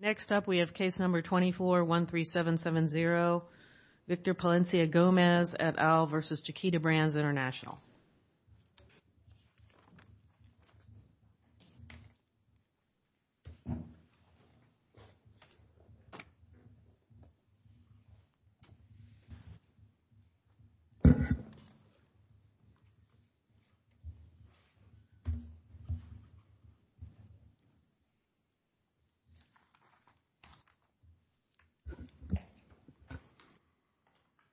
Next up, we have case number 2413770, Victor Palencia Gomez et al. v. Chiquita Brands International v. Chiquita Brands International v. Chiquita Brands International v. Chiquita Brands International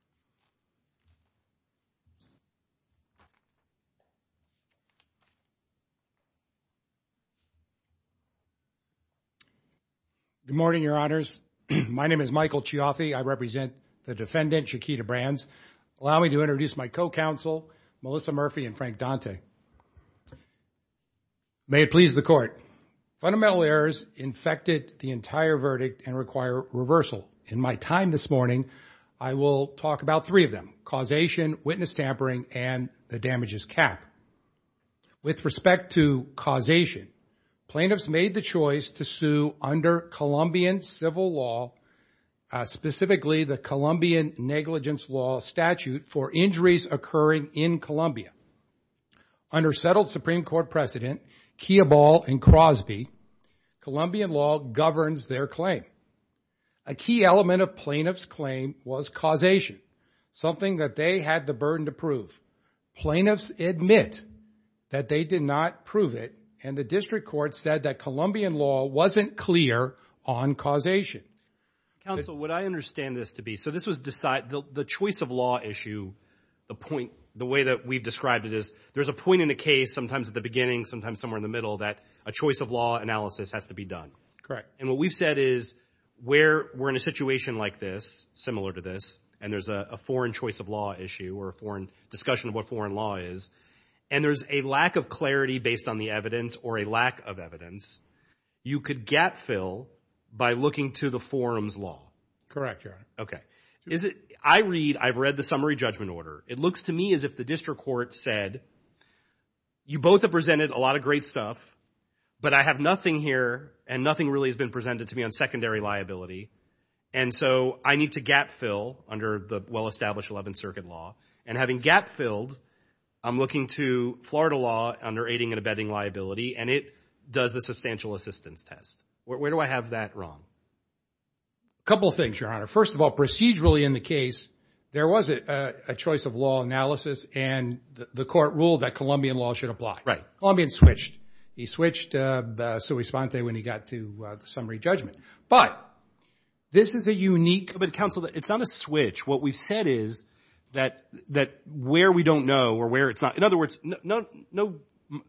Good morning, your honors. My name is Michael Chiaffi. I represent the defendant, Chiquita Brands. Allow me to introduce my co-counsel, Melissa Murphy and Frank Dante. May it please the court. Fundamental errors infected the entire verdict and require reversal. In my time this morning, I will talk about three of them, causation, witness tampering, and the damages cap. With respect to causation, plaintiffs made the choice to sue under Colombian civil law, specifically the Colombian negligence law statute for injuries occurring in Colombia. Under settled Supreme Court precedent, Kioball and Crosby, Colombian law governs their claim. A key element of plaintiff's claim was causation, something that they had the burden to prove. Plaintiffs admit that they did not prove it, and the district court said that Colombian law wasn't clear on causation. Counsel, would I understand this to be, so this was the choice of law issue, the point, the way that we've described it is, there's a point in a case, sometimes at the beginning, sometimes somewhere in the middle, that a choice of law analysis has to be done. Correct. And what we've said is, where we're in a situation like this, similar to this, and there's a foreign choice of law issue or a foreign discussion of what foreign law is, and there's a lack of clarity based on the evidence or a lack of evidence, you could gap fill by looking to the forum's law. Correct. Okay. Is it, I read, I've read the summary judgment order. It looks to me as if the district court said, you both have presented a lot of great stuff, but I have nothing here, and nothing really has been presented to me on secondary liability, and so I need to gap fill under the well-established 11th Circuit law, and having gap filled, I'm looking to Florida law under aiding and abetting liability, and it does the substantial assistance test. Where do I have that wrong? A couple of things, Your Honor. First of all, procedurally in the case, there was a choice of law analysis, and the court ruled that Colombian law should apply. Right. Well, Colombian switched. He switched sui sponte when he got to the summary judgment, but this is a unique- But counsel, it's not a switch. What we've said is that where we don't know or where it's not, in other words, no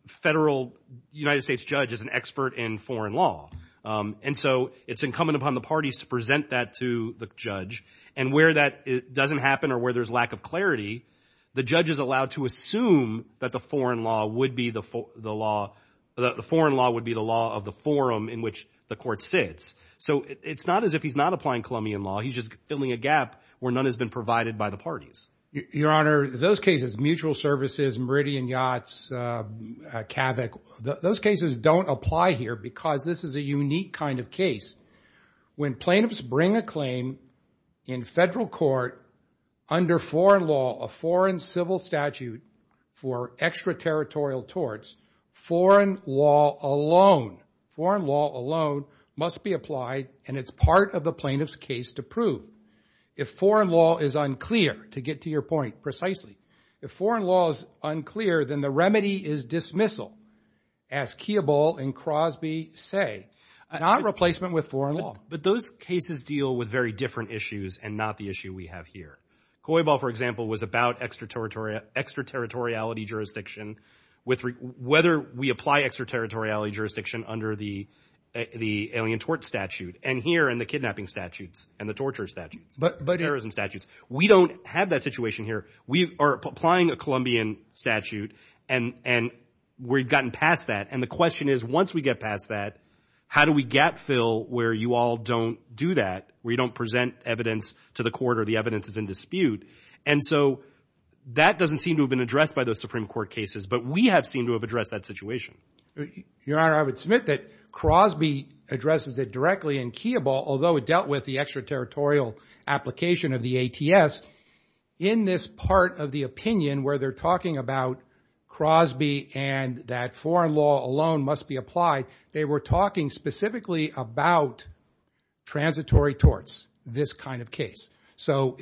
federal United States judge is an expert in foreign law, and so it's incumbent upon the parties to present that to the judge, and where that doesn't happen or where there's lack of clarity, the judge is allowed to assume that the foreign law would be the law of the forum in which the court sits. So it's not as if he's not applying Colombian law. He's just filling a gap where none has been provided by the parties. Your Honor, those cases, mutual services, Meridian Yachts, CAVIC, those cases don't apply here because this is a unique kind of case. When plaintiffs bring a claim in federal court under foreign law, a foreign civil statute for extraterritorial torts, foreign law alone, foreign law alone must be applied, and it's part of the plaintiff's case to prove. If foreign law is unclear, to get to your point precisely, if foreign law is unclear, then the remedy is dismissal, as Kioball and Crosby say, not replacement with foreign law. But those cases deal with very different issues and not the issue we have here. Kioball, for example, was about extraterritoriality jurisdiction, whether we apply extraterritoriality jurisdiction under the alien tort statute, and here in the kidnapping statutes and the torture statutes, terrorism statutes. We don't have that situation here. We are applying a Colombian statute, and we've gotten past that, and the question is, once we get past that, how do we gap fill where you all don't do that, where you don't present evidence to the court or the evidence is in dispute? And so that doesn't seem to have been addressed by those Supreme Court cases, but we have seemed to have addressed that situation. Your Honor, I would submit that Crosby addresses it directly, and Kioball, although it dealt with the extraterritorial application of the ATS, in this part of the opinion where they're talking about Crosby and that foreign law alone must be applied, they were talking specifically about transitory torts, this kind of case. So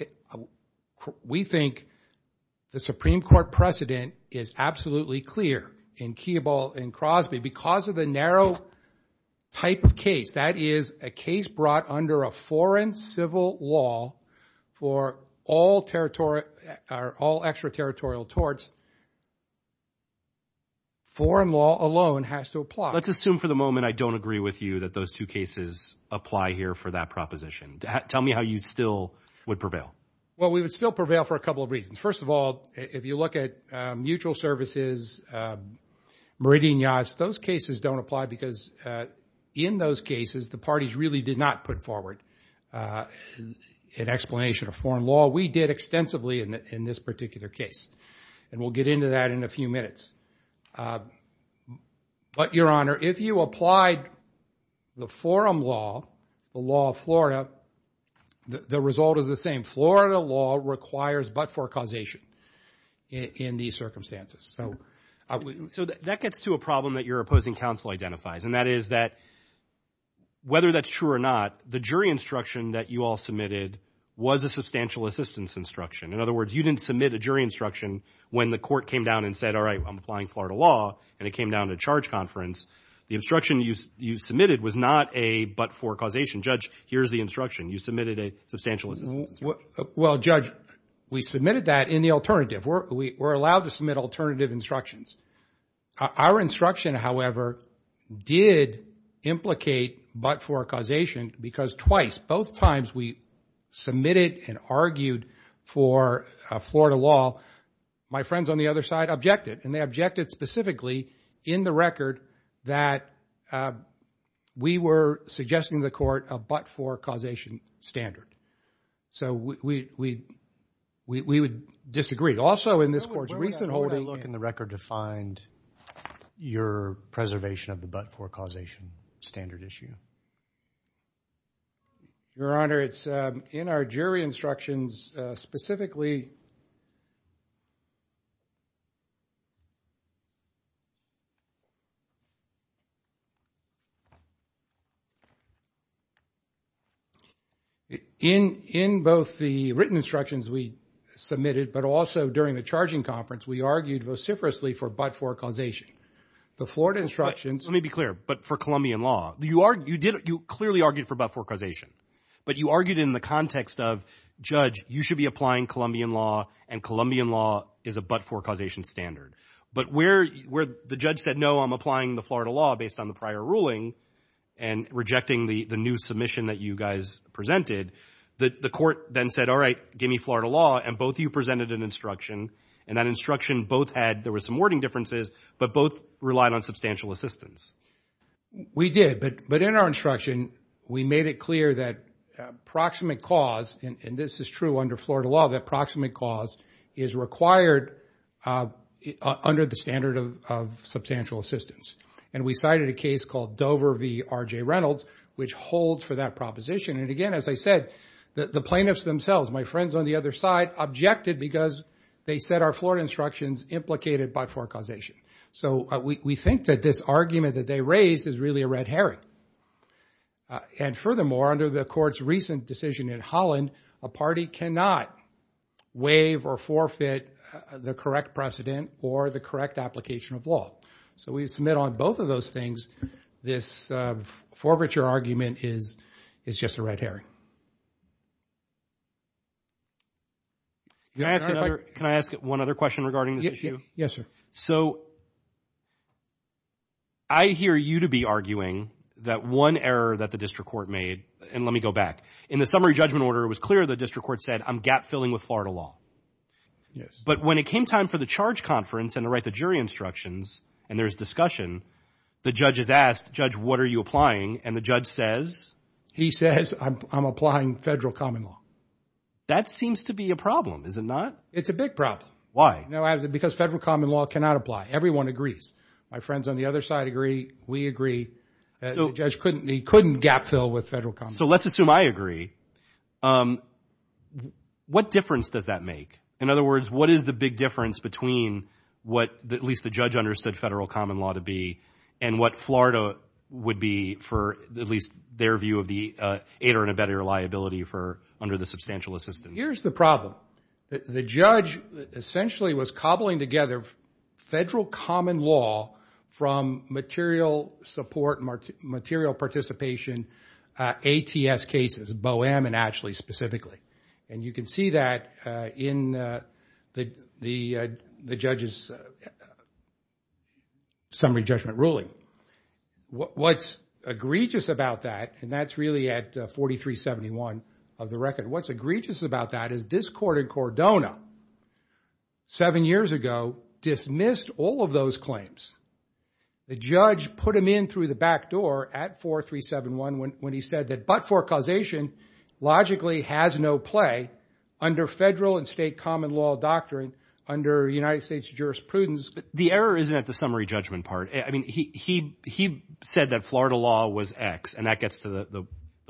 we think the Supreme Court precedent is absolutely clear in Kioball and Crosby because of the narrow type of case. That is a case brought under a foreign civil law for all extraterritorial torts. Foreign law alone has to apply. Let's assume for the moment I don't agree with you that those two cases apply here for that proposition. Tell me how you still would prevail. Well, we would still prevail for a couple of reasons. First of all, if you look at mutual services, meridian yachts, those cases don't apply because in those cases the parties really did not put forward an explanation of foreign law. We did extensively in this particular case, and we'll get into that in a few minutes. But Your Honor, if you applied the forum law, the law of Florida, the result is the same. Florida law requires but-for causation in these circumstances. So that gets to a problem that your opposing counsel identifies, and that is that whether that's true or not, the jury instruction that you all submitted was a substantial assistance instruction. In other words, you didn't submit a jury instruction when the court came down and said, all right, I'm applying Florida law, and it came down to charge conference. The instruction you submitted was not a but-for causation. Judge, here's the instruction. You submitted a substantial assistance instruction. Well, Judge, we submitted that in the alternative. We're allowed to submit alternative instructions. Our instruction, however, did implicate but-for causation because twice, both times we submitted and argued for Florida law. My friends on the other side objected, and they objected specifically in the record that we were suggesting to the court a but-for causation standard. So we would disagree. Also in this court's recent holding... Where would I look in the record to find your preservation of the but-for causation standard issue? Your Honor, it's in our jury instructions specifically... In both the written instructions we submitted, but also during the charging conference, we argued vociferously for but-for causation. The Florida instructions... Let me be clear. But for Columbian law? You clearly argued for but-for causation, but you argued in the context of, Judge, you should be applying Columbian law, and Columbian law is a but-for causation standard. But where the judge said, no, I'm applying the Florida law based on the prior ruling and rejecting the new submission that you guys presented, the court then said, all right, give me Florida law, and both of you presented an instruction, and that instruction both had... There were some wording differences, but both relied on substantial assistance. We did, but in our instruction, we made it clear that proximate cause, and this is true under Florida law, that proximate cause is required under the standard of substantial assistance. And we cited a case called Dover v. R.J. Reynolds, which holds for that proposition. And again, as I said, the plaintiffs themselves, my friends on the other side, objected because they said our Florida instructions implicated but-for causation. So we think that this argument that they raised is really a red herring. And furthermore, under the court's recent decision in Holland, a party cannot waive or forfeit the correct precedent or the correct application of law. So we submit on both of those things. This forfeiture argument is just a red herring. Can I ask one other question regarding this issue? Yes, sir. So, I hear you to be arguing that one error that the district court made, and let me go back, in the summary judgment order, it was clear the district court said, I'm gap-filling with Florida law. Yes. But when it came time for the charge conference and to write the jury instructions, and there's discussion, the judge is asked, Judge, what are you applying? And the judge says... He says, I'm applying federal common law. That seems to be a problem, is it not? It's a big problem. Why? Because federal common law cannot apply. Everyone agrees. My friends on the other side agree. We agree. The judge couldn't gap-fill with federal common law. So let's assume I agree. What difference does that make? In other words, what is the big difference between what at least the judge understood federal common law to be and what Florida would be for at least their view of the aid or inability or liability for under the substantial assistance? Here's the problem. The judge essentially was cobbling together federal common law from material support, material participation, ATS cases, BOEM and Ashley specifically. And you can see that in the judge's summary judgment ruling. What's egregious about that, and that's really at 4371 of the record, what's egregious about that is this court in Cordona seven years ago dismissed all of those claims. The judge put them in through the back door at 4371 when he said that but for causation logically has no play under federal and state common law doctrine under United States jurisprudence. The error isn't at the summary judgment part. I mean, he said that Florida law was X, and that gets to the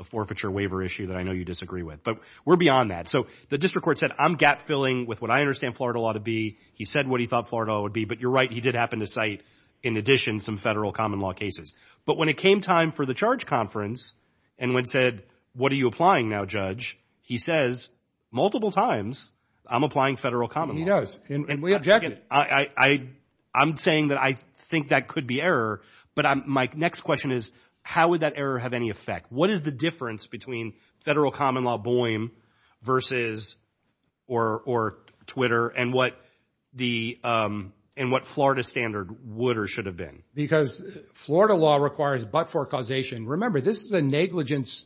forfeiture waiver issue that I know you disagree with. But we're beyond that. So the district court said, I'm gap-filling with what I understand Florida law to be. He said what he thought Florida law would be, but you're right, he did happen to cite in addition some federal common law cases. But when it came time for the charge conference and when said, what are you applying now, judge? He says multiple times, I'm applying federal common law. He does, and we objected. I'm saying that I think that could be error, but my next question is how would that error have any effect? What is the difference between federal common law Boehm versus, or Twitter, and what Florida standard would or should have been? Because Florida law requires but for causation. Remember, this is a negligence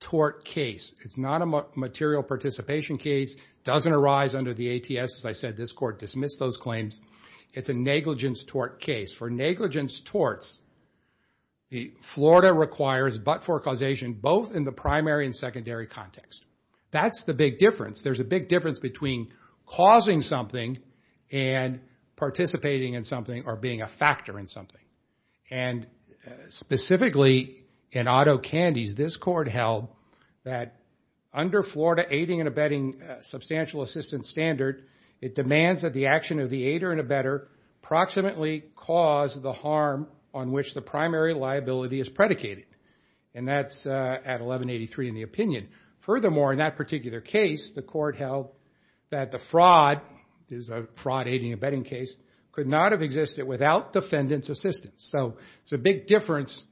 tort case. It's not a material participation case. Doesn't arise under the ATS, as I said, this court dismissed those claims. It's a negligence tort case. For negligence torts, Florida requires but for causation both in the primary and secondary context. That's the big difference. There's a big difference between causing something and participating in something or being a factor in something. And specifically in Otto Candies, this court held that under Florida aiding and abetting substantial assistance standard, it demands that the action of the aider and abetter approximately cause the harm on which the primary liability is predicated. And that's at 1183 in the opinion. Furthermore, in that particular case, the court held that the fraud, there's a fraud aiding and abetting case, could not have existed without defendant's assistance. So it's a big difference,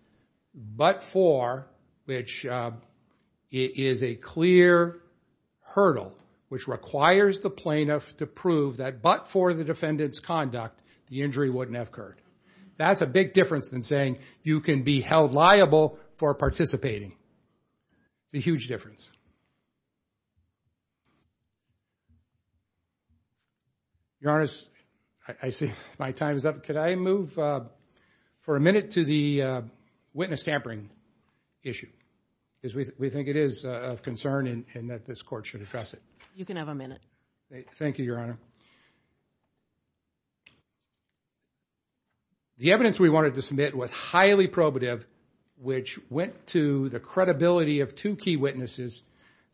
but for, which is a clear hurdle, which requires the plaintiff to prove that but for the defendant's conduct, the injury wouldn't have occurred. That's a big difference than saying you can be held liable for participating. The huge difference. Your Honor, I see my time is up. Could I move for a minute to the witness tampering issue? We think it is of concern and that this court should address it. You can have a minute. Thank you, Your Honor. The evidence we wanted to submit was highly probative, which went to the credibility of two key witnesses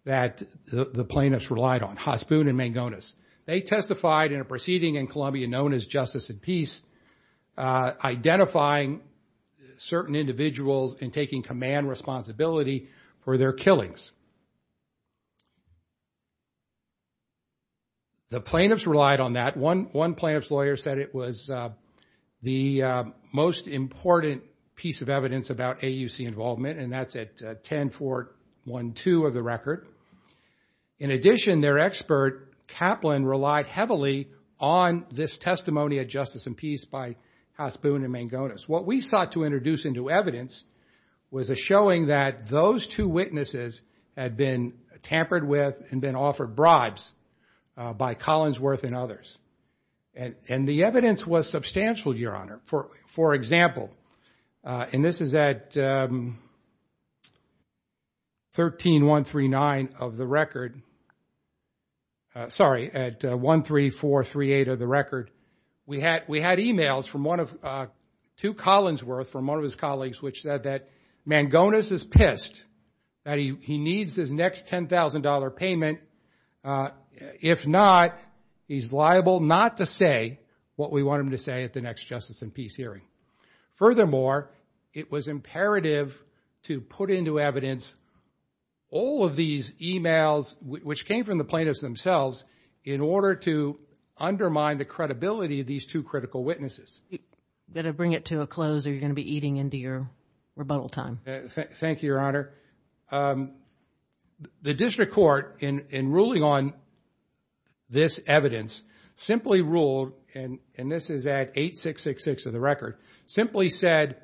that the plaintiffs relied on, Hospoon and Mangones. They testified in a proceeding in Columbia known as Justice and Peace, identifying certain individuals and taking command responsibility for their killings. The plaintiffs relied on that. One plaintiff's lawyer said it was the most important piece of evidence about AUC involvement and that's at 10-412 of the record. In addition, their expert, Kaplan, relied heavily on this testimony of Justice and Peace by Hospoon and Mangones. What we sought to introduce into evidence was a showing that those two witnesses had been tampered with and been offered bribes by Collinsworth and others. The evidence was substantial, Your Honor. For example, and this is at 13139 of the record, sorry, at 13438 of the record, we had emails from two Collinsworth, from one of his colleagues, which said that Mangones is pissed, that he needs his next $10,000 payment. If not, he's liable not to say what we want him to say at the next Justice and Peace hearing. Furthermore, it was imperative to put into evidence all of these emails, which came from the plaintiffs themselves, in order to undermine the credibility of these two critical witnesses. You've got to bring it to a close or you're going to be eating into your rebuttal time. Thank you, Your Honor. The district court, in ruling on this evidence, simply ruled, and this is at 8666 of the record, simply said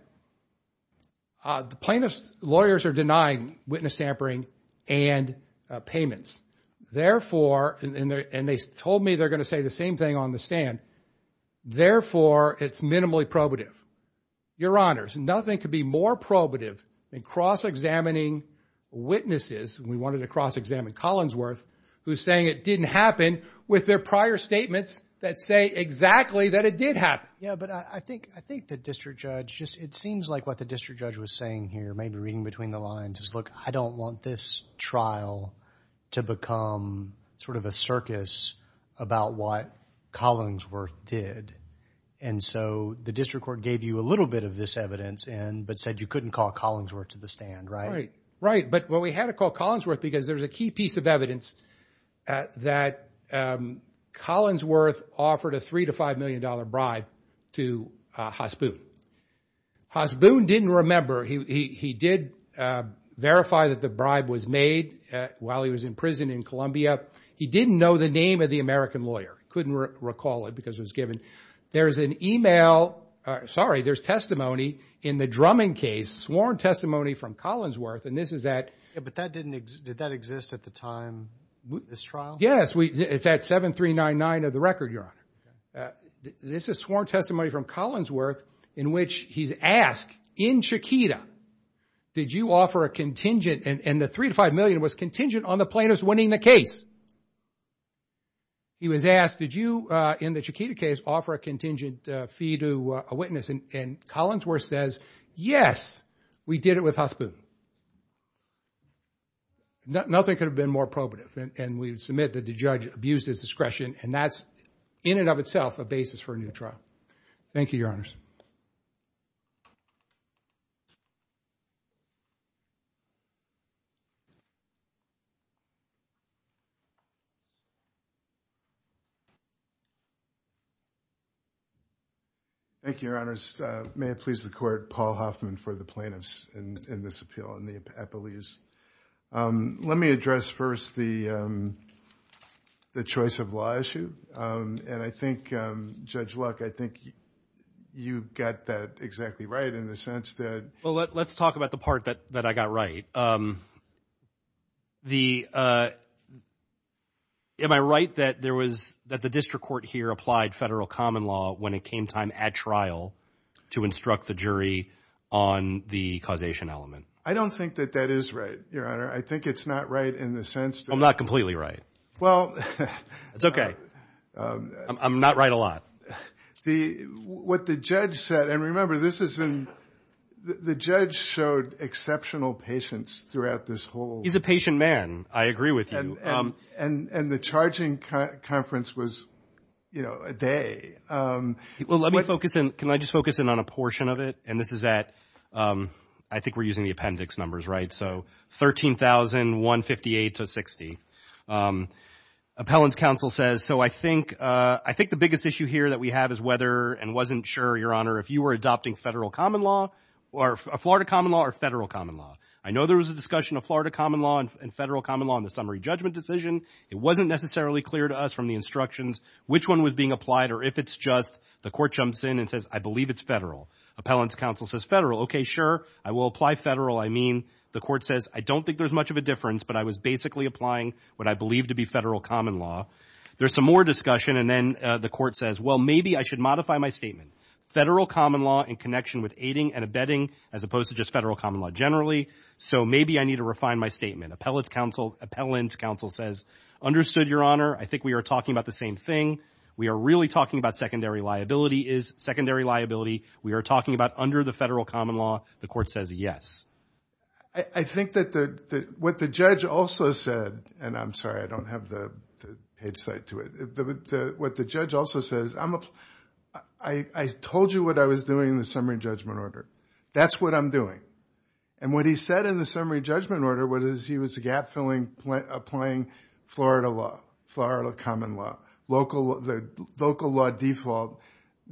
the plaintiff's lawyers are denying witness tampering and payments. Therefore, and they told me they're going to say the same thing on the stand, therefore, it's minimally probative. Your Honors, nothing could be more probative than cross-examining witnesses, and we wanted to cross-examine Collinsworth, who's saying it didn't happen with their prior statements that say exactly that it did happen. Yeah, but I think the district judge, it seems like what the district judge was saying here, maybe reading between the lines, is, look, I don't want this trial to become sort of a circus about what Collinsworth did, and so the district court gave you a little bit of this evidence, but said you couldn't call Collinsworth to the stand, right? Right, but we had to call Collinsworth because there's a key piece of evidence that Collinsworth offered a $3 to $5 million bribe to Hasbun. Hasbun didn't remember. He did verify that the bribe was made while he was in prison in Columbia. He didn't know the name of the American lawyer. Couldn't recall it because it was given. There's an email, sorry, there's testimony in the Drummond case, sworn testimony from Collinsworth, and this is at... Yeah, but that didn't, did that exist at the time, this trial? Yes, it's at 7399 of the record, Your Honor. This is sworn testimony from Collinsworth in which he's asked, in Chiquita, did you offer a contingent, and the $3 to $5 million was contingent on the plaintiff's winning the case. He was asked, did you, in the Chiquita case, offer a contingent fee to a witness? And Collinsworth says, yes, we did it with Hasbun. Nothing could have been more probative, and we submit that the judge abused his discretion, and that's, in and of itself, a basis for a new trial. Thank you, Your Honors. Thank you, Your Honors. May it please the Court, Paul Hoffman for the plaintiffs in this appeal, in the epilese. Let me address first the choice of law issue, and I think, Judge Luck, I think you got that exactly right in the sense that... Let's talk about the part that I got right. Am I right that there was, that the district court here applied federal common law when it came time at trial to instruct the jury on the causation element? I don't think that that is right, Your Honor. I think it's not right in the sense that... I'm not completely right. Well... It's okay. I'm not right a lot. What the judge said, and remember, this is in, the judge showed exceptional patience throughout this whole... He's a patient man. I agree with you. And the charging conference was, you know, a day. Let me focus in, can I just focus in on a portion of it? And this is at, I think we're using the appendix numbers, right? So 13,158 to 60. Appellant's counsel says, so I think the biggest issue here that we have is whether, and wasn't sure, Your Honor, if you were adopting federal common law, or Florida common law, or federal common law. I know there was a discussion of Florida common law and federal common law in the summary judgment decision. It wasn't necessarily clear to us from the instructions which one was being applied or if it's just the court jumps in and says, I believe it's federal. Appellant's counsel says, federal. Okay, sure. I will apply federal. I mean, the court says, I don't think there's much of a difference, but I was basically applying what I believe to be federal common law. There's some more discussion. And then the court says, well, maybe I should modify my statement. Federal common law in connection with aiding and abetting, as opposed to just federal common law generally. So maybe I need to refine my statement. Appellant's counsel says, understood, Your Honor. I think we are talking about the same thing. We are really talking about secondary liability is secondary liability. We are talking about under the federal common law, the court says, yes. I think that what the judge also said, and I'm sorry, I don't have the hindsight to it. What the judge also says, I told you what I was doing in the summary judgment order. That's what I'm doing. And what he said in the summary judgment order was he was gap-filling, applying Florida law, Florida common law, local law default.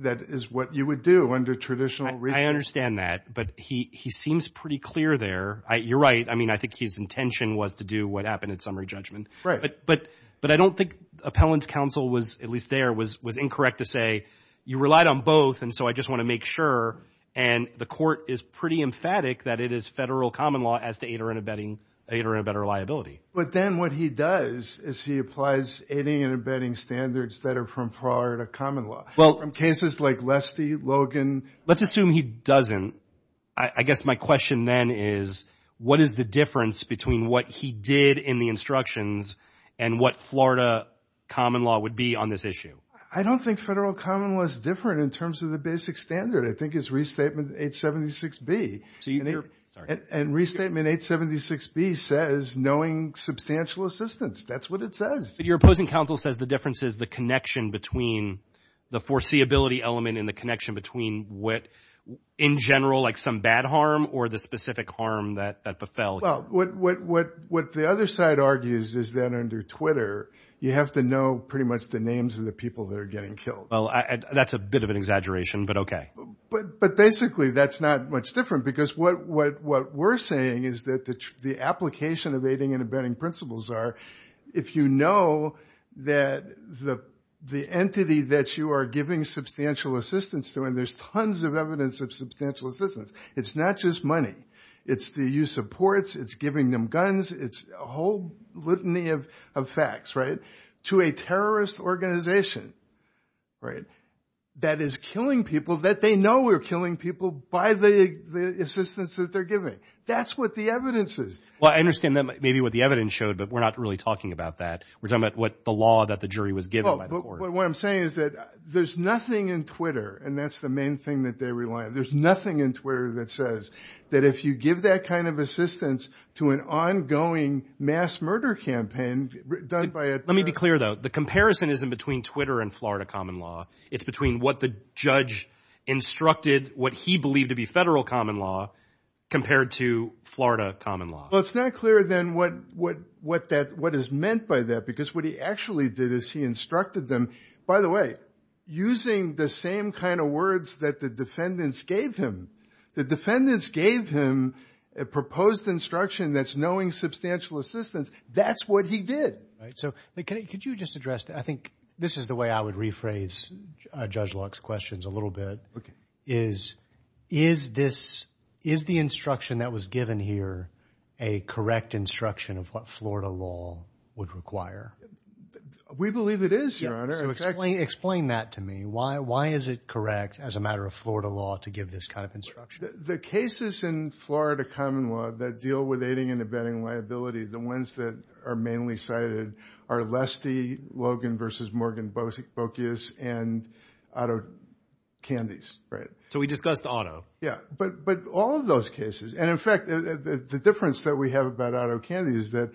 That is what you would do under traditional reasoning. I understand that. But he seems pretty clear there. You're right. I mean, I think his intention was to do what happened in summary judgment. But I don't think appellant's counsel was, at least there, was incorrect to say, you relied on both, and so I just want to make sure. And the court is pretty emphatic that it is federal common law as to aid or abetting liability. But then what he does is he applies aiding and abetting standards that are from Florida common law, from cases like Leste, Logan. Let's assume he doesn't. I guess my question then is, what is the difference between what he did in the instructions and what Florida common law would be on this issue? I don't think federal common law is different in terms of the basic standard. I think it's Restatement 876B. And Restatement 876B says knowing substantial assistance. That's what it says. But your opposing counsel says the difference is the connection between the foreseeability element and the connection between what, in general, like some bad harm or the specific harm that befell. Well, what the other side argues is that under Twitter, you have to know pretty much the names of the people that are getting killed. Well, that's a bit of an exaggeration, but OK. But basically, that's not much different, because what we're saying is that the application of aiding and abetting principles are, if you know that the entity that you are giving substantial assistance to, and there's tons of evidence of substantial assistance. It's not just money. It's the use of ports. It's giving them guns. It's a whole litany of facts, right? To a terrorist organization, right, that is killing people that they know are killing people by the assistance that they're giving. That's what the evidence is. Well, I understand that maybe what the evidence showed, but we're not really talking about that. We're talking about what the law that the jury was given by the court. But what I'm saying is that there's nothing in Twitter, and that's the main thing that they rely on. There's nothing in Twitter that says that if you give that kind of assistance to an ongoing mass murder campaign done by a terrorist organization. It's not clear, though. The comparison isn't between Twitter and Florida common law. It's between what the judge instructed, what he believed to be federal common law, compared to Florida common law. Well, it's not clear, then, what is meant by that, because what he actually did is he instructed them, by the way, using the same kind of words that the defendants gave him. The defendants gave him a proposed instruction that's knowing substantial assistance. That's what he did. Right. So could you just address that? I think this is the way I would rephrase Judge Locke's questions a little bit, is, is this, is the instruction that was given here a correct instruction of what Florida law would require? We believe it is, Your Honor. Explain that to me. Why is it correct, as a matter of Florida law, to give this kind of instruction? The cases in Florida common law that deal with aiding and abetting liability, the ones that are mainly cited are Leste, Logan v. Morgan-Bocius, and Otto Candies, right? So we discussed Otto. Yeah. But, but all of those cases, and in fact, the difference that we have about Otto Candies is that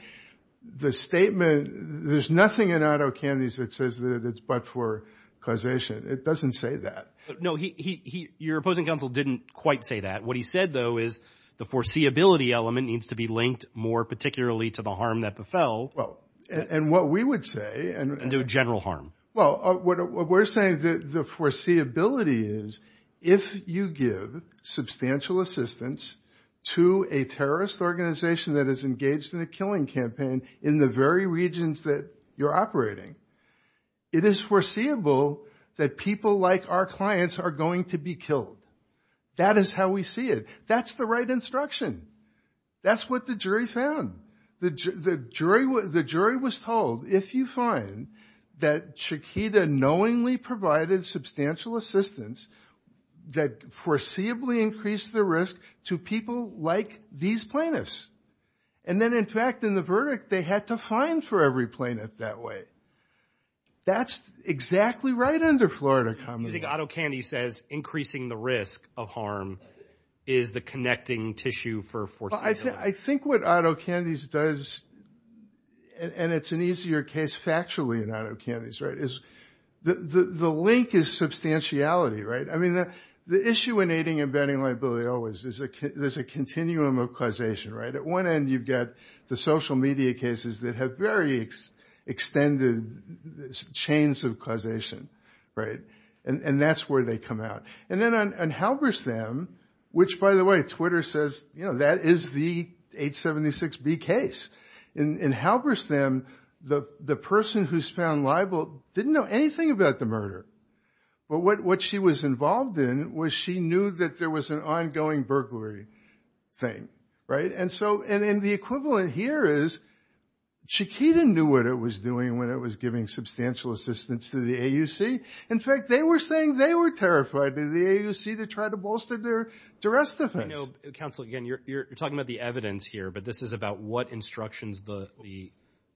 the statement, there's nothing in Otto Candies that says that it's but for causation. It doesn't say that. No, he, he, he, your opposing counsel didn't quite say that. What he said, though, is the foreseeability element needs to be linked more particularly to the harm that befell. Well, and, and what we would say, and, and do a general harm. Well, what we're saying is that the foreseeability is, if you give substantial assistance to a terrorist organization that is engaged in a killing campaign in the very regions that you're operating, it is foreseeable that people like our clients are going to be killed. That is how we see it. That's the right instruction. That's what the jury found. The jury, the jury was told, if you find that Chiquita knowingly provided substantial assistance that foreseeably increased the risk to people like these plaintiffs, and then, in fact, in the verdict, they had to fine for every plaintiff that way, that's exactly right under Florida common law. I think Otto Candies says increasing the risk of harm is the connecting tissue for foreseeability. I think what Otto Candies does, and it's an easier case factually in Otto Candies, right, is the, the, the link is substantiality, right? I mean, the, the issue in aiding and abetting liability always is a, there's a continuum of causation, right? At one end, you've got the social media cases that have very extended chains of causation, right? And, and that's where they come out. And then on Halberstam, which, by the way, Twitter says, you know, that is the 876B case. In Halberstam, the, the person who's found liable didn't know anything about the murder. But what, what she was involved in was she knew that there was an ongoing burglary thing, right? And so, and, and the equivalent here is Chiquita knew what it was doing when it was giving substantial assistance to the AUC. In fact, they were saying they were terrified that the AUC, they tried to bolster their duress defense. You know, counsel, again, you're, you're talking about the evidence here, but this is about what instructions the, the,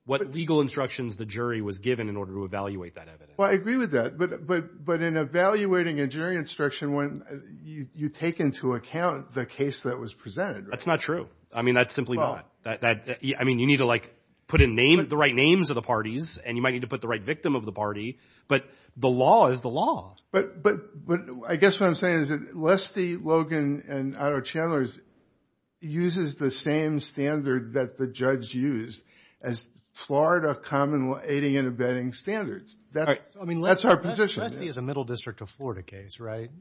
what legal instructions the jury was given in order to evaluate that evidence. Well, I agree with that. But, but, but in evaluating a jury instruction, when you, you take into account the case that was presented, right? That's not true. I mean, that's simply not. That, that, I mean, you need to like put in name, the right names of the parties, and you might need to put the right victim of the party, but the law is the law. But, but, but I guess what I'm saying is that Lestie, Logan, and Otto Chandler's uses the same standard that the judge used as Florida common, aiding and abetting standards. That's, I mean, that's our position. Lestie is a middle district of Florida case, right?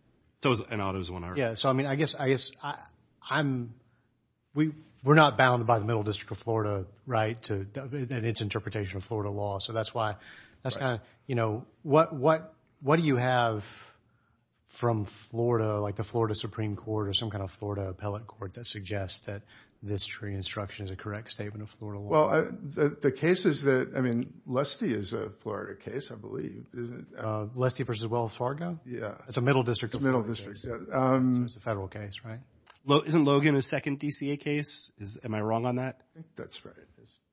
So, and Otto's one of ours. Yeah. So, I mean, I guess, I guess I'm, we, we're not bound by the middle district of Florida, right? To its interpretation of Florida law. So, that's why, that's kind of, you know, what, what, what do you have from Florida, like the Florida Supreme Court or some kind of Florida appellate court that suggests that this jury instruction is a correct statement of Florida law? Well, the, the case is that, I mean, Lestie is a Florida case, I believe, isn't it? Lestie versus Wells Fargo? Yeah. It's a middle district of Florida case. It's a middle district, yeah. So, it's a federal case, right? Isn't Logan a second DCA case? Is, am I wrong on that? That's right.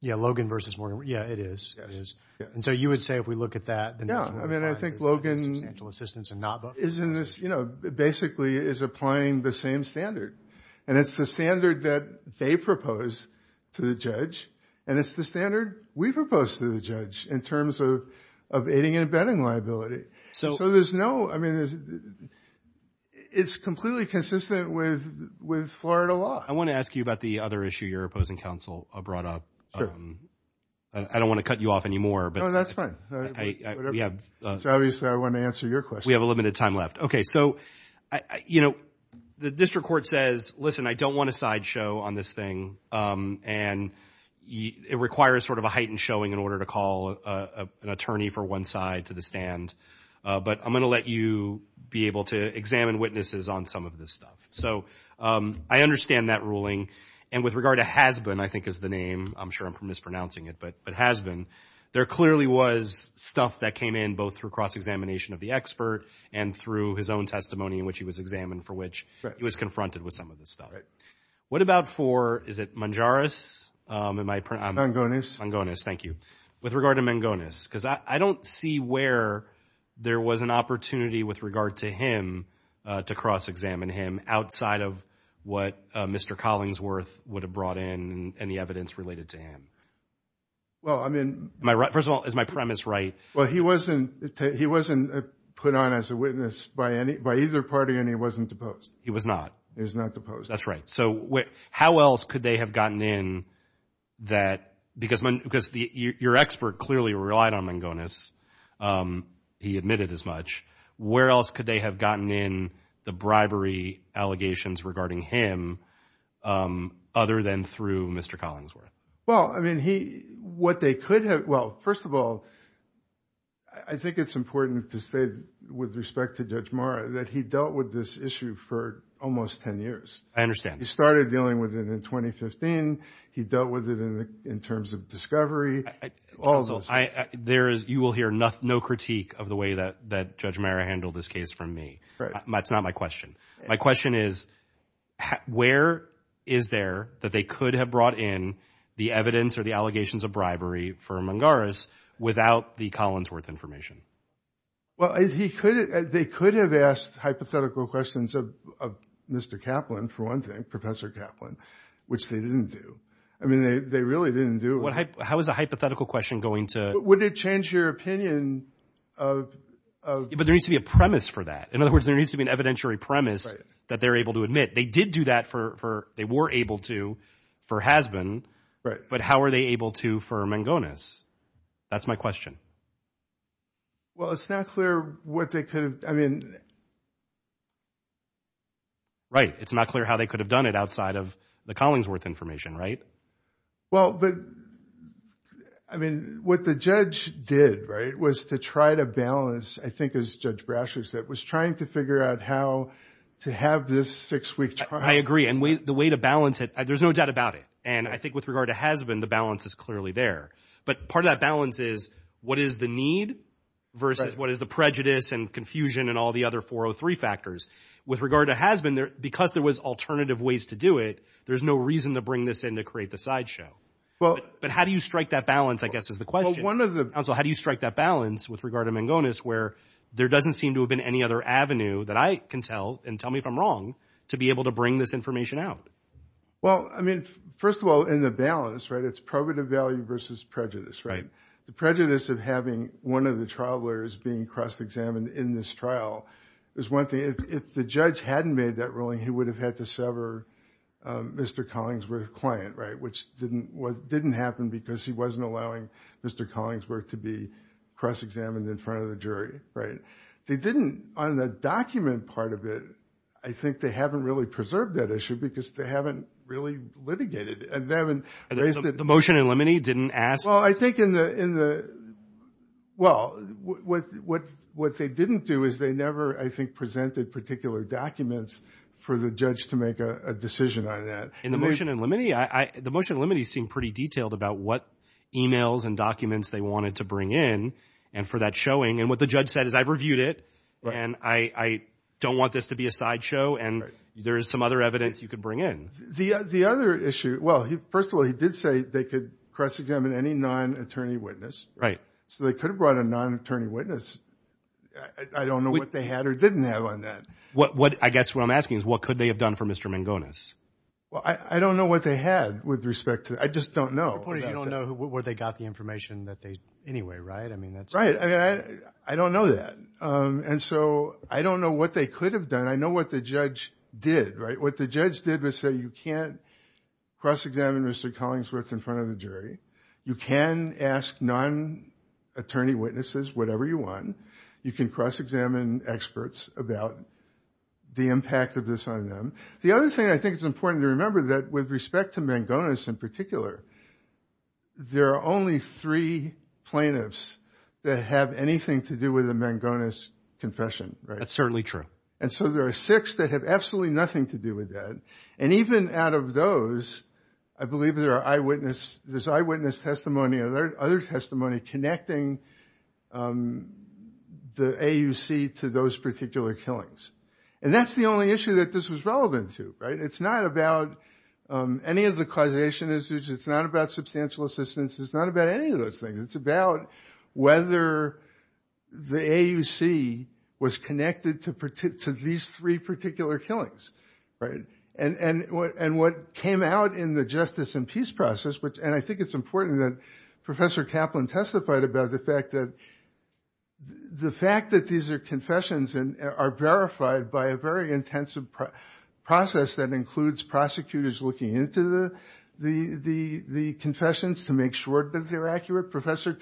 Yeah, Logan versus Morgan. Yeah, it is. Yeah, it is. And so, you would say, if we look at that, then that's where we're at. Yeah, I mean, I think Logan is in this, you know, basically is applying the same standard. And it's the standard that they propose to the judge, and it's the standard we propose to the judge in terms of, of aiding and abetting liability. So there's no, I mean, it's completely consistent with, with Florida law. I want to ask you about the other issue your opposing counsel brought up. I don't want to cut you off anymore. No, that's fine. It's obvious I want to answer your question. We have a limited time left. Okay, so, you know, the district court says, listen, I don't want to sideshow on this thing. And it requires sort of a heightened showing in order to call an attorney for one side to the stand. But I'm going to let you be able to examine witnesses on some of this stuff. So, I understand that ruling. And with regard to Hasbun, I think is the name. I'm sure I'm mispronouncing it, but, but Hasbun, there clearly was stuff that came in both through cross-examination of the expert and through his own testimony in which he was examined for which he was confronted with some of this stuff. What about for, is it Mangonis? Mangonis. Mangonis, thank you. With regard to Mangonis, because I don't see where there was an opportunity with regard to him to cross-examine him outside of what Mr. Collingsworth would have brought in and the evidence related to him. Well, I mean. First of all, is my premise right? Well, he wasn't, he wasn't put on as a witness by any, by either party and he wasn't deposed. He was not. He was not deposed. That's right. So, how else could they have gotten in that, because, because your expert clearly relied on Mangonis. He admitted as much. Where else could they have gotten in the bribery allegations regarding him other than through Mr. Collingsworth? Well, I mean, he, what they could have, well, first of all, I think it's important to say with respect to Judge Marra that he dealt with this issue for almost 10 years. I understand. He started dealing with it in 2015. He dealt with it in terms of discovery. Counsel, there is, you will hear no critique of the way that Judge Marra handled this case from me. That's not my question. My question is, where is there that they could have brought in the evidence or the allegations of bribery for Mangonis without the Collingsworth information? Well, they could have asked hypothetical questions of Mr. Kaplan, for one thing, Professor Kaplan, which they didn't do. I mean, they really didn't do it. How is a hypothetical question going to... Would it change your opinion of... But there needs to be a premise for that. In other words, there needs to be an evidentiary premise that they're able to admit. They did do that for, they were able to for Hasbun, but how are they able to for Mangonis? That's my question. Well, it's not clear what they could have, I mean... Right. It's not clear how they could have done it outside of the Collingsworth information, right? Right. Well, but, I mean, what the judge did, right, was to try to balance, I think as Judge Brashley said, was trying to figure out how to have this six-week trial. I agree. And the way to balance it, there's no doubt about it. And I think with regard to Hasbun, the balance is clearly there. But part of that balance is, what is the need versus what is the prejudice and confusion and all the other 403 factors? With regard to Hasbun, because there was alternative ways to do it, there's no reason to bring this in to create the sideshow. Well... But how do you strike that balance, I guess, is the question. Well, one of the... Also, how do you strike that balance with regard to Mangonis, where there doesn't seem to have been any other avenue that I can tell, and tell me if I'm wrong, to be able to bring this information out? Well, I mean, first of all, in the balance, right, it's probative value versus prejudice, right? The prejudice of having one of the trial lawyers being cross-examined in this trial is one thing. If the judge hadn't made that ruling, he would have had to sever Mr. Collingsworth's client, right? Which didn't happen because he wasn't allowing Mr. Collingsworth to be cross-examined in front of the jury, right? They didn't, on the document part of it, I think they haven't really preserved that issue because they haven't really litigated it. They haven't raised it... The motion in Limine didn't ask... Well, I think in the... Well, what they didn't do is they never, I think, presented particular documents for the judge to make a decision on that. In the motion in Limine, the motion in Limine seemed pretty detailed about what emails and documents they wanted to bring in, and for that showing, and what the judge said is I've reviewed it, and I don't want this to be a sideshow, and there is some other evidence you could bring in. The other issue... Well, first of all, he did say they could cross-examine any non-attorney witness, so they could have brought a non-attorney witness. I don't know what they had or didn't have on that. I guess what I'm asking is what could they have done for Mr. Mangones? I don't know what they had with respect to... I just don't know. Your point is you don't know where they got the information that they... Anyway, right? I mean, that's... Right. I mean, I don't know that, and so I don't know what they could have done. I know what the judge did, right? What the judge did was say you can't cross-examine Mr. Collingsworth in front of the jury. You can ask non-attorney witnesses whatever you want. You can cross-examine experts about the impact of this on them. The other thing I think is important to remember that with respect to Mangones in particular, there are only three plaintiffs that have anything to do with the Mangones confession, right? That's certainly true. And so there are six that have absolutely nothing to do with that. And even out of those, I believe there are eyewitness... There's eyewitness testimony or other testimony connecting the AUC to those particular killings. And that's the only issue that this was relevant to, right? It's not about any of the causation issues. It's not about substantial assistance. It's not about any of those things. It's about whether the AUC was connected to these three particular killings, right? And what came out in the justice and peace process, and I think it's important that Professor Kaplan testified about the fact that these are confessions and are verified by a very intensive process that includes prosecutors looking into the confessions to make sure that they're accurate. Professor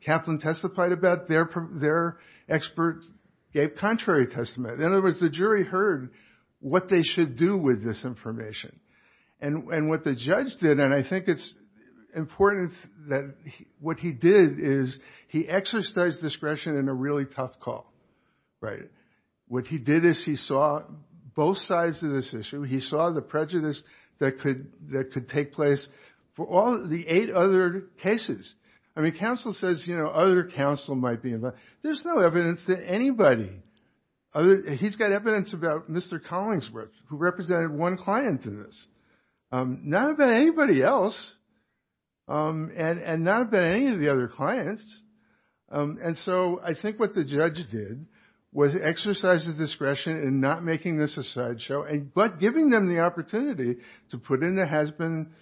Kaplan testified about their expert gave contrary testimony. In other words, the jury heard what they should do with this information. And what the judge did, and I think it's important that what he did is he exercised discretion in a really tough call, right? What he did is he saw both sides of this issue. He saw the prejudice that could take place for all the eight other cases. I mean, counsel says, you know, other counsel might be involved. There's no evidence that anybody, he's got evidence about Mr. Collingsworth, who represented one client in this. Not about anybody else, and not about any of the other clients, and so I think what the judge did was exercise his discretion in not making this a sideshow. But giving them the opportunity to put in the husband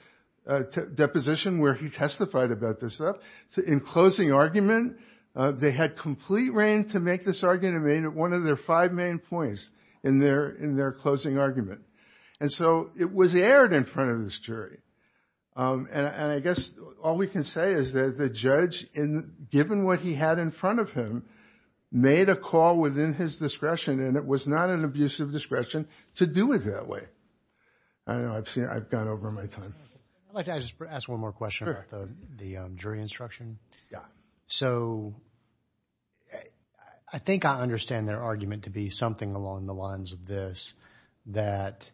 deposition where he testified about this stuff. So in closing argument, they had complete reign to make this argument and made it one of their five main points in their closing argument. And so it was aired in front of this jury, and I guess all we can say is that the judge, given what he had in front of him, made a call within his discretion, and it was not an abuse of discretion to do it that way. I know, I've seen, I've gone over my time. I'd like to ask one more question about the jury instruction. So I think I understand their argument to be something along the lines of this, that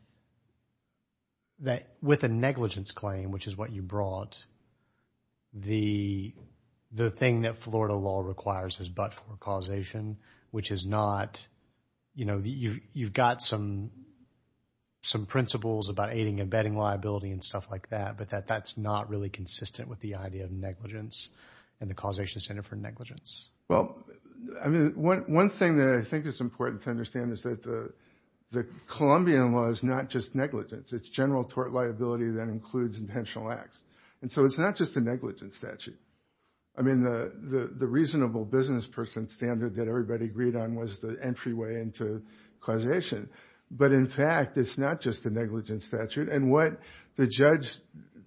with a negligence claim, which is what you brought, the thing that Florida law requires is but-for causation, which is not, you know, you've got some principles about aiding and abetting liability and stuff like that, but that's not really consistent with the idea of negligence and the causation standard for negligence. Well, I mean, one thing that I think is important to understand is that the Colombian law is not just negligence, it's general tort liability that includes intentional acts. And so it's not just a negligence statute. I mean, the reasonable business person standard that everybody agreed on was the entryway into causation. But in fact, it's not just a negligence statute. And what the judge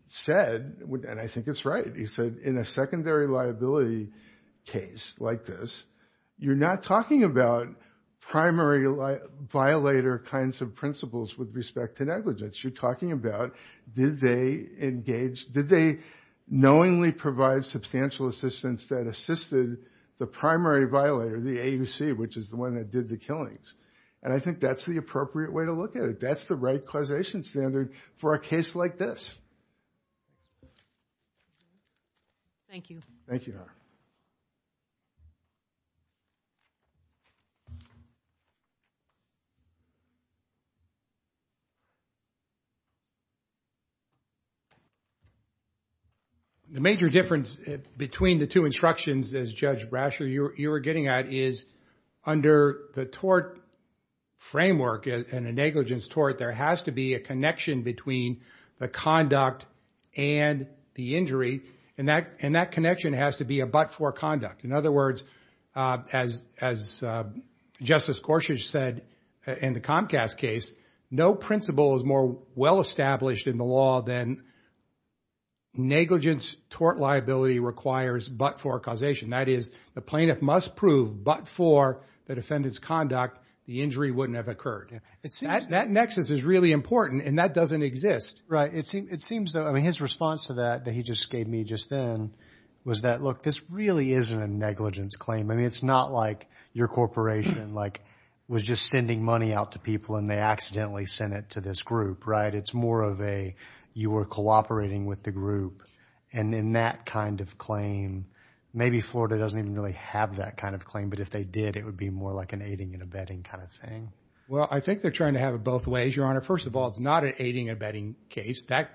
said, and I think it's right, he said in a secondary liability case like this, you're not talking about primary violator kinds of principles with respect to negligence. You're talking about did they engage, did they knowingly provide substantial assistance that assisted the primary violator, the AUC, which is the one that did the killings. And I think that's the appropriate way to look at it. That's the right causation standard for a case like this. Thank you. Thank you. The major difference between the two instructions, as Judge Brasher, you were getting at, is under the tort framework and a negligence tort, there has to be a connection between the conduct and the injury, and that connection has to be a but-for conduct. In other words, as Justice Gorsuch said in the Comcast case, no principle is more well established in the law than negligence tort liability requires but-for causation. That is, the plaintiff must prove but-for the defendant's conduct, the injury wouldn't have occurred. That nexus is really important, and that doesn't exist. Right. It seems that, I mean, his response to that that he just gave me just then was that, look, this really isn't a negligence claim. I mean, it's not like your corporation was just sending money out to people and they accidentally sent it to this group, right? It's more of a, you were cooperating with the group, and in that kind of claim, maybe Florida doesn't even really have that kind of claim, but if they did, it would be more like an aiding and abetting kind of thing. Well, I think they're trying to have it both ways, Your Honor. First of all, it's not an aiding and abetting case. That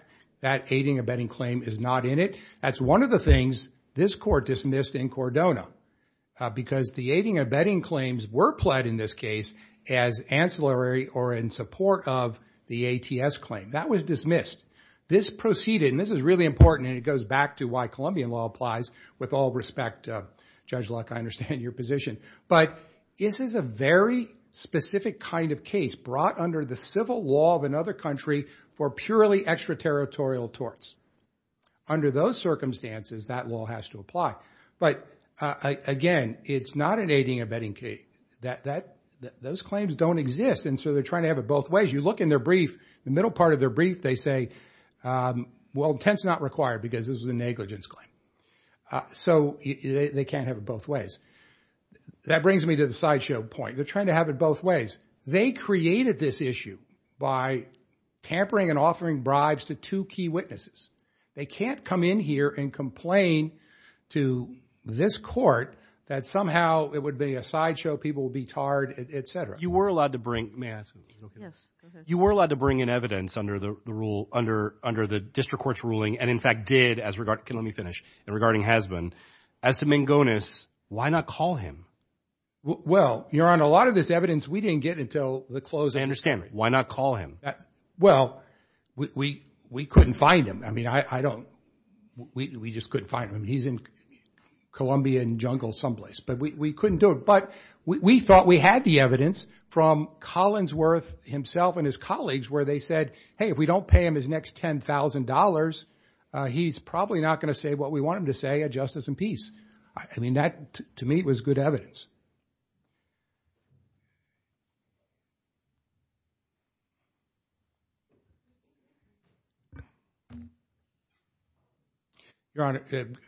aiding and abetting claim is not in it. That's one of the things this court dismissed in Cordona, because the aiding and abetting claims were pled in this case as ancillary or in support of the ATS claim. That was dismissed. This proceeded, and this is really important, and it goes back to why Colombian law applies, with all respect. Judge Luck, I understand your position, but this is a very specific kind of case brought under the civil law of another country for purely extraterritorial torts. Under those circumstances, that law has to apply, but again, it's not an aiding and abetting case. Those claims don't exist, and so they're trying to have it both ways. You look in their brief, the middle part of their brief, they say, well, intent's not required because this was a negligence claim. So they can't have it both ways. That brings me to the sideshow point. They're trying to have it both ways. They created this issue by pampering and offering bribes to two key witnesses. They can't come in here and complain to this court that somehow it would be a sideshow, people would be tarred, et cetera. You were allowed to bring, may I ask you to look at this? You were allowed to bring in evidence under the district court's ruling, and in fact did as regard, okay, let me finish, and regarding Hasbin. As to Mangones, why not call him? Well, Your Honor, a lot of this evidence we didn't get until the closing. Why not call him? Well, we couldn't find him. I mean, I don't, we just couldn't find him. He's in Colombian jungle someplace, but we couldn't do it, but we thought we had the evidence from Collinsworth himself and his colleagues where they said, hey, if we don't pay him his next $10,000, he's probably not going to say what we want him to say, a justice and peace. I mean, that, to me, was good evidence. Your Honor,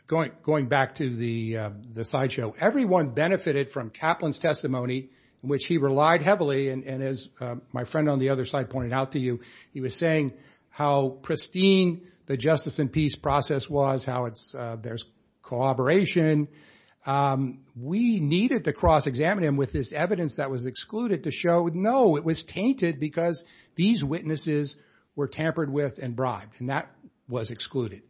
going back to the sideshow, everyone benefited from Kaplan's testimony, which he relied heavily, and as my friend on the other side pointed out to you, he was saying how pristine the justice and peace process was, how it's, there's cooperation. We needed to cross-examine him with this evidence that was excluded to show, no, it was tainted because these witnesses were tampered with and bribed, and that was excluded.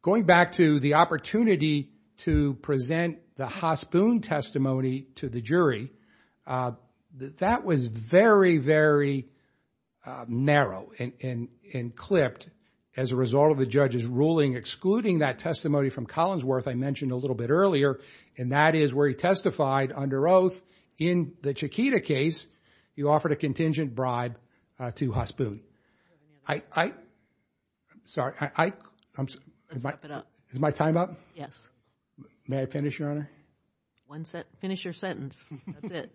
Going back to the opportunity to present the Hasbin testimony to the jury, that was very, very narrow and clipped as a result of the judge's ruling excluding that testimony from Collinsworth I mentioned a little bit earlier, and that is where he testified under oath in the Chiquita case, you offered a contingent bribe to Hasbin. I, I, I'm sorry, I, I, I'm, is my, is my time up? Yes. May I finish, Your Honor? One sentence, finish your sentence, that's it.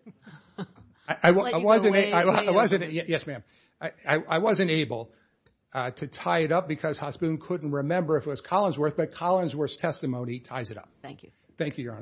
I wasn't able, I wasn't, yes, ma'am, I wasn't able to tie it up because Hasbin couldn't remember if it was Collinsworth, but Collinsworth's testimony ties it up. Thank you. Thank you, Your Honors.